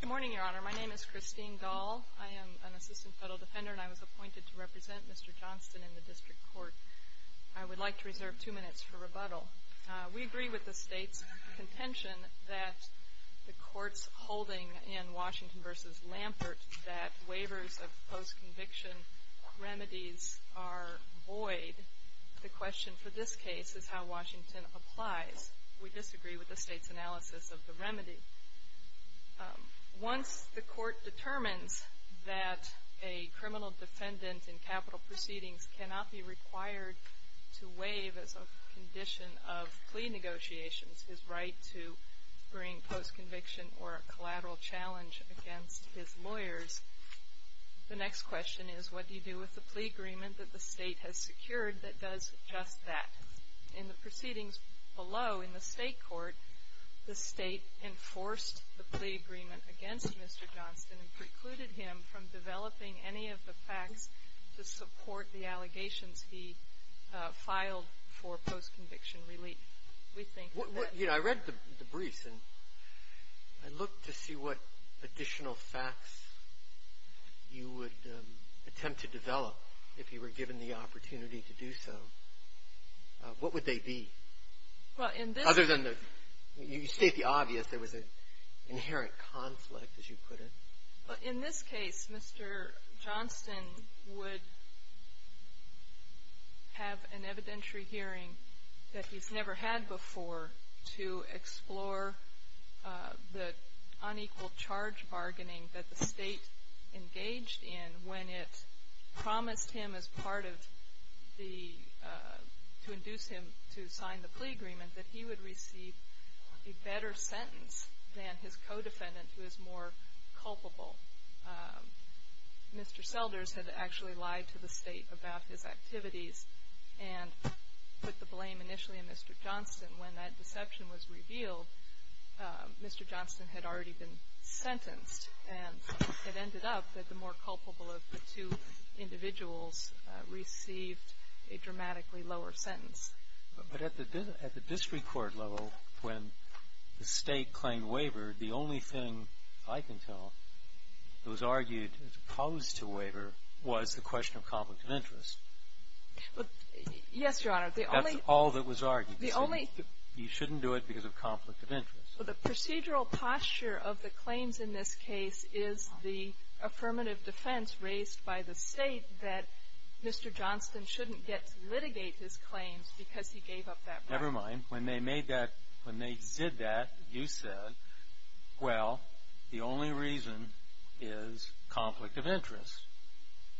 Good morning, Your Honor. My name is Christine Dahl. I am an Assistant Federal Defender and I was appointed to represent Mr. Johnston in the District Court. I would like to reserve two minutes for rebuttal. We agree with the State's contention that the courts holding in Washington v. Lampert that waivers of post-conviction remedies are void. The question for this case is how Washington applies. We disagree with the State's analysis of the remedy. Once the court determines that a criminal defendant in capital proceedings cannot be required to waive as a condition of plea negotiations his right to bring post-conviction or a collateral challenge against his lawyers, the next question is what do you do with the plea agreement that the State has secured that does just that. In the proceedings below in the State court, the State enforced the plea agreement against Mr. Johnston and precluded him from developing any of the facts to support the allegations he filed for post-conviction relief. We think that I read the briefs and I looked to see what additional facts you would attempt to develop if you were given the opportunity to do so. What would they be? Well, in this Other than the, you state the obvious, there was an inherent conflict as you put it. In this case, Mr. Johnston would have an evidentiary hearing that he's never had before to explore the unequal charge bargaining that the State engaged in when it promised him as part of the, to induce him to sign the plea agreement that he would receive a better sentence than his co-defendant who is more culpable. Mr. Selders had actually lied to the State about his activities and put the blame initially on Mr. Johnston. When that deception was revealed, Mr. Johnston had already been sentenced and it ended up that the more culpable of the two individuals received a dramatically lower sentence. But at the district court level, when the State claimed waiver, the only thing I can tell that was argued as opposed to waiver was the question of conflict of interest. Yes, Your Honor. The only That's all that was argued. The only You shouldn't do it because of conflict of interest. So the procedural posture of the claims in this case is the affirmative defense raised by the State that Mr. Johnston shouldn't get to litigate his claims because he gave up that right. Never mind. When they made that, when they did that, you said, well, the only reason is conflict of interest.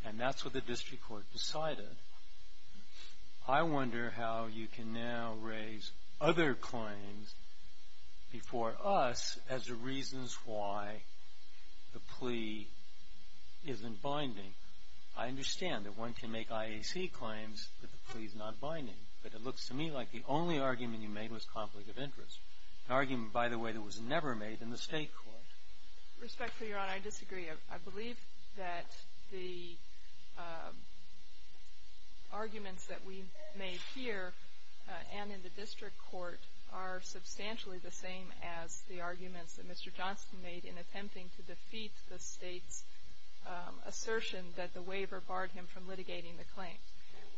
And that's what the district court decided. I wonder how you can now raise other claims before us as the reasons why the plea isn't binding. I understand that one can make IAC claims that the plea is not binding, but it looks to me like the only argument you made was conflict of interest, an argument, by the way, that was never made in the State court. Respectfully, Your Honor, I disagree. I believe that the arguments that we made here and in the district court are substantially the same as the arguments that Mr. Johnston made in attempting to defeat the State's assertion that the waiver barred him from litigating the claims.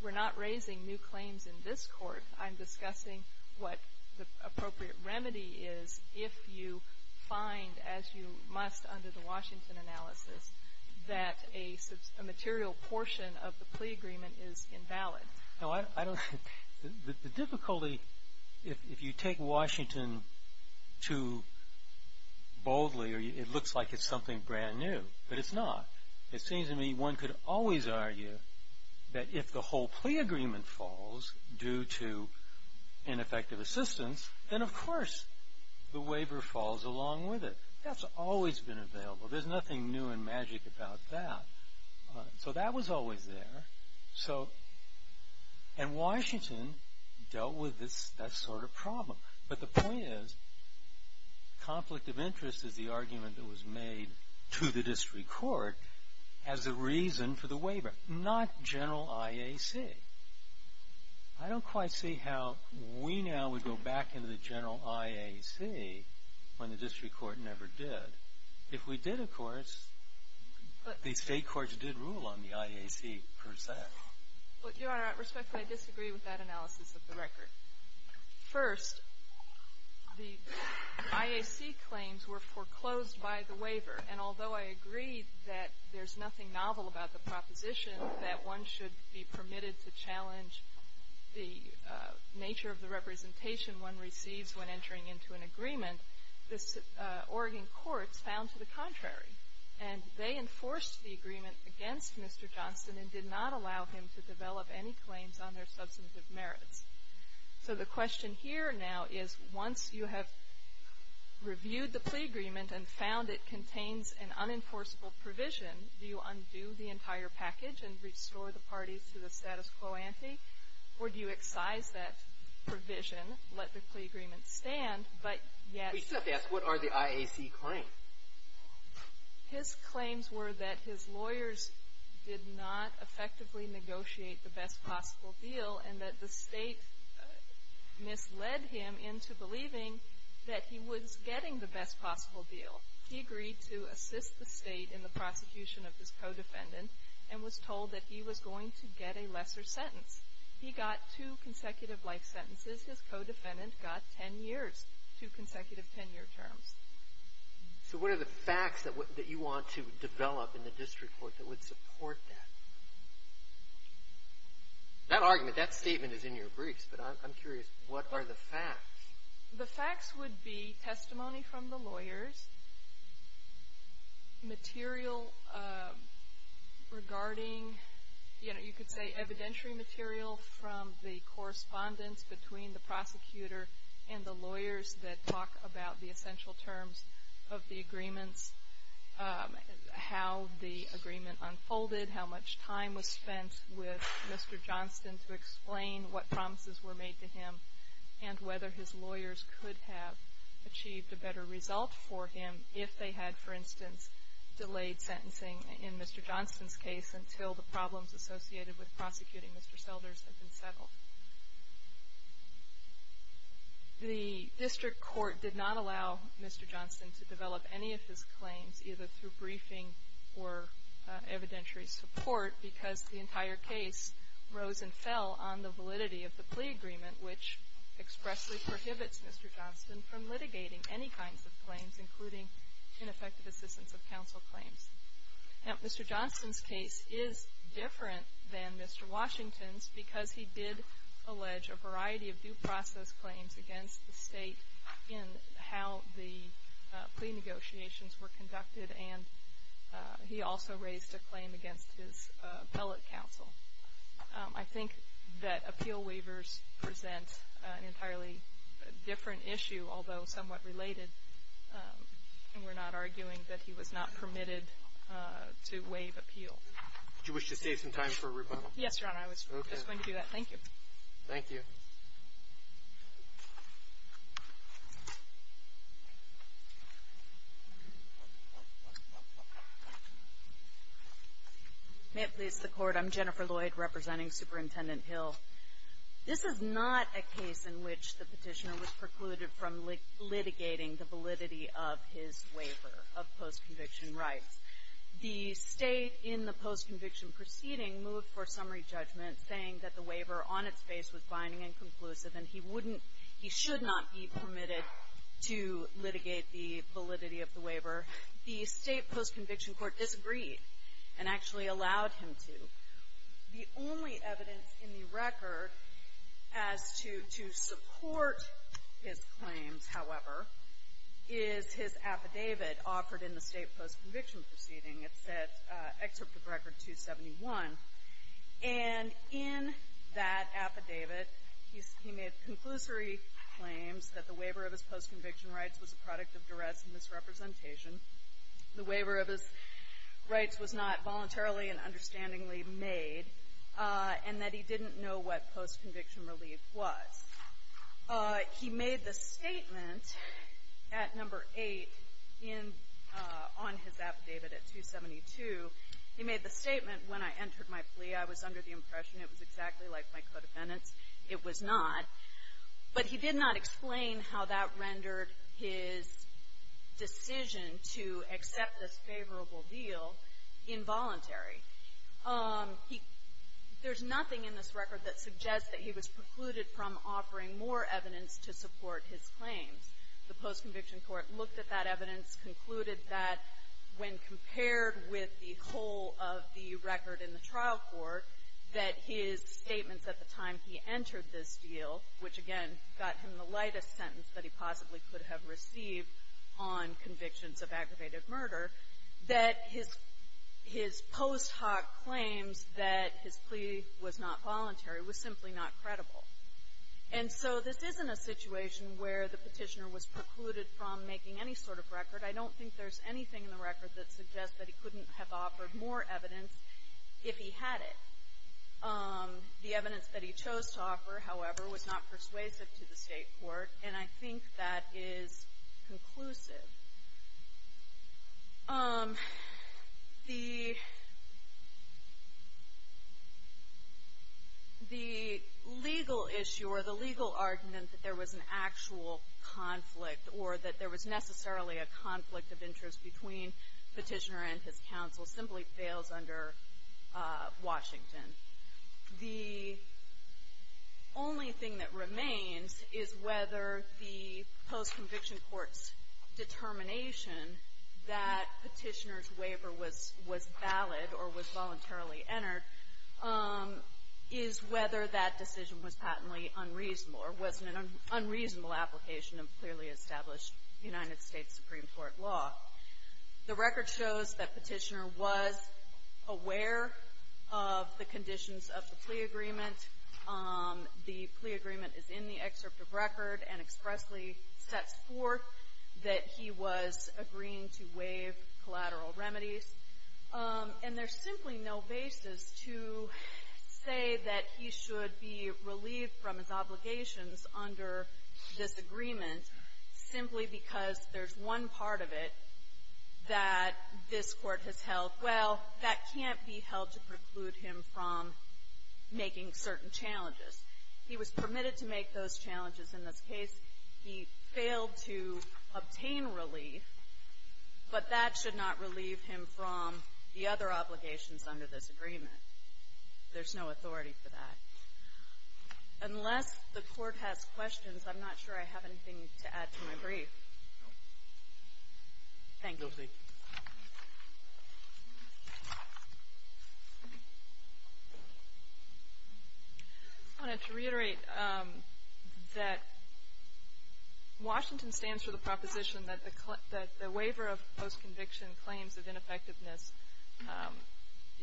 We're not raising new claims in this court. I'm discussing what the appropriate remedy is if you find, as you must under the Washington analysis, that a material portion of the plea agreement is invalid. The difficulty, if you take Washington too boldly, it looks like it's something brand new. But it's not. It seems to me one could always argue that if the whole plea agreement falls due to ineffective assistance, then, of course, the waiver falls along with it. That's always been available. There's nothing new and magic about that. So that was always there. And Washington dealt with that sort of problem. But the point is, conflict of interest is the argument that was made to the district court as a reason for the waiver, not General IAC. I don't quite see how we now would go back into the General IAC when the district court never did. If we did, of course, the State courts did rule on the IAC, per se. Your Honor, respectfully, I disagree with that analysis of the record. First, the IAC claims were foreclosed by the waiver. And although I agree that there's nothing novel about the proposition that one should be permitted to challenge the nature of the representation one receives when entering into an agreement, the Oregon courts found to the contrary. And they enforced the agreement against Mr. Johnston and did not allow him to develop any claims on their substantive merits. So the question here now is, once you have reviewed the plea agreement and found it contains an unenforceable provision, do you undo the entire package and restore the parties to the status quo ante? Or do you excise that provision, let the plea agreement stand, but yet… His claims were that his lawyers did not effectively negotiate the best possible deal and that the State misled him into believing that he was getting the best possible deal. He agreed to assist the State in the prosecution of his co-defendant and was told that he was going to get a lesser sentence. He got two consecutive life sentences. His co-defendant got 10 years, two consecutive 10-year terms. So what are the facts that you want to develop in the district court that would support that? That argument, that statement is in your briefs, but I'm curious, what are the facts? The facts would be testimony from the lawyers, material regarding, you know, you could say evidentiary material from the correspondence between the prosecutor and the lawyers that talk about the essential terms of the agreements, how the agreement unfolded, how much time was spent with Mr. Johnston to explain what promises were made to him and whether his lawyers could have achieved a better result for him if they had, for instance, delayed sentencing in Mr. Johnston's case until the problems associated with prosecuting Mr. Selders had been settled. The district court did not allow Mr. Johnston to develop any of his claims, either through briefing or evidentiary support, because the entire case rose and fell on the validity of the plea agreement, which expressly prohibits Mr. Johnston from litigating any kinds of claims, including ineffective assistance of counsel claims. Now, Mr. Johnston's case is different than Mr. Washington's because he did allege a variety of due process claims against the state in how the plea negotiations were conducted, and he also raised a claim against his appellate counsel. I think that appeal waivers present an entirely different issue, although somewhat related, and we're not arguing that he was not permitted to waive appeal. Do you wish to save some time for a rebuttal? Yes, Your Honor. I was just going to do that. Thank you. Thank you. May it please the Court, I'm Jennifer Lloyd, representing Superintendent Hill. This is not a case in which the petitioner was precluded from litigating the validity of his waiver of post-conviction rights. The state in the post-conviction proceeding moved for summary judgment, saying that the waiver on its face was binding and conclusive, and he wouldn't, he should not be permitted to litigate the validity of the waiver. The state post-conviction court disagreed and actually allowed him to. The only evidence in the record as to support his claims, however, is his affidavit offered in the state post-conviction proceeding. It's at Excerpt of Record 271, and in that affidavit, he made conclusory claims that the waiver of his post-conviction rights was a product of duress and misrepresentation, the waiver of his rights was not voluntarily and understandingly made, and that he didn't know what post-conviction relief was. He made the statement at number 8 in, on his affidavit at 272. He made the statement, when I entered my plea, I was under the impression it was exactly like my codependence. It was not. But he did not explain how that rendered his decision to accept this favorable deal involuntary. There's nothing in this record that suggests that he was precluded from offering more evidence to support his claims. The post-conviction court looked at that evidence, concluded that when compared with the whole of the record in the trial court, that his statements at the time he entered this deal, which, again, got him the lightest sentence that he possibly could have received on convictions of aggravated murder, that his post hoc claims that his plea was not voluntary was simply not credible. And so this isn't a situation where the petitioner was precluded from making any sort of record. I don't think there's anything in the record that suggests that he couldn't have offered more evidence if he had it. The evidence that he chose to offer, however, was not persuasive to the State Court, and I think that is conclusive. The legal issue or the legal argument that there was an actual conflict or that there was necessarily a conflict of interest between the petitioner and his counsel simply fails under Washington. The only thing that remains is whether the post-conviction court's determination that petitioner's waiver was valid or was voluntarily entered is whether that decision was patently unreasonable or was an unreasonable application of clearly established United States Supreme Court law. The record shows that petitioner was aware of the conditions of the plea agreement. The plea agreement is in the excerpt of record and expressly sets forth that he was agreeing to waive collateral remedies. And there's simply no basis to say that he should be relieved from his obligations under this agreement simply because there's one part of it that this Court has held, well, that can't be held to preclude him from making certain challenges. He was permitted to make those challenges in this case. He failed to obtain relief, but that should not relieve him from the other obligations under this agreement. There's no authority for that. Unless the Court has questions, I'm not sure I have anything to add to my brief. Thank you. Roberts. I wanted to reiterate that Washington stands for the proposition that the waiver of post-conviction claims of ineffectiveness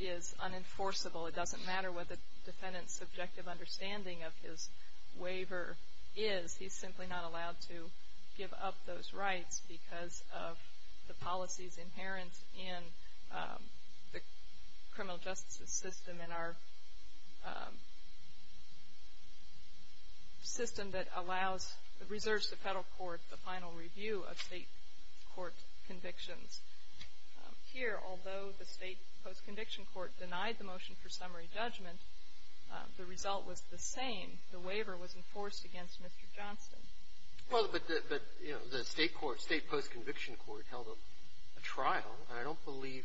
is unenforceable. It doesn't matter what the defendant's subjective understanding of his waiver is. He's simply not allowed to give up those rights because of the policies inherent in the criminal justice system and our system that allows, reserves the federal court the final review of state court convictions. Here, although the state post-conviction court denied the motion for summary judgment, the result was the same. The waiver was enforced against Mr. Johnson. Well, but, you know, the state post-conviction court held a trial, and I don't believe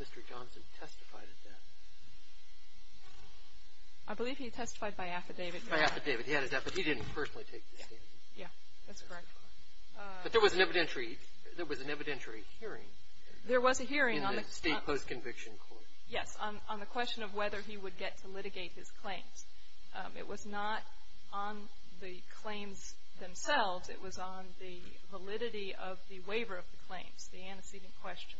Mr. Johnson testified at that. I believe he testified by affidavit. By affidavit. He had his affidavit. He didn't personally take the stand. Yeah. That's correct. But there was an evidentiary hearing in the state post-conviction court. There was a hearing on the question of whether he would get to litigate his claims. It was not on the claims themselves. It was on the validity of the waiver of the claims, the antecedent question.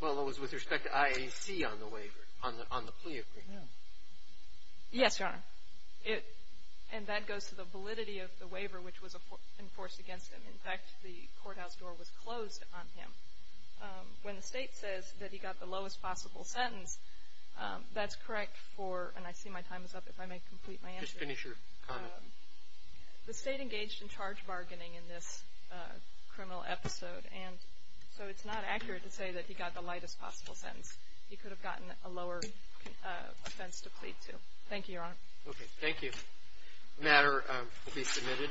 Well, it was with respect to IAC on the waiver, on the plea agreement. Yes, Your Honor. And that goes to the validity of the waiver, which was enforced against him. In fact, the courthouse door was closed on him. When the state says that he got the lowest possible sentence, that's correct for, and I see my time is up. If I may complete my answer. Just finish your comment. The state engaged in charge bargaining in this criminal episode, and so it's not accurate to say that he got the lightest possible sentence. He could have gotten a lower offense to plead to. Thank you, Your Honor. Okay. Thank you. The matter will be submitted.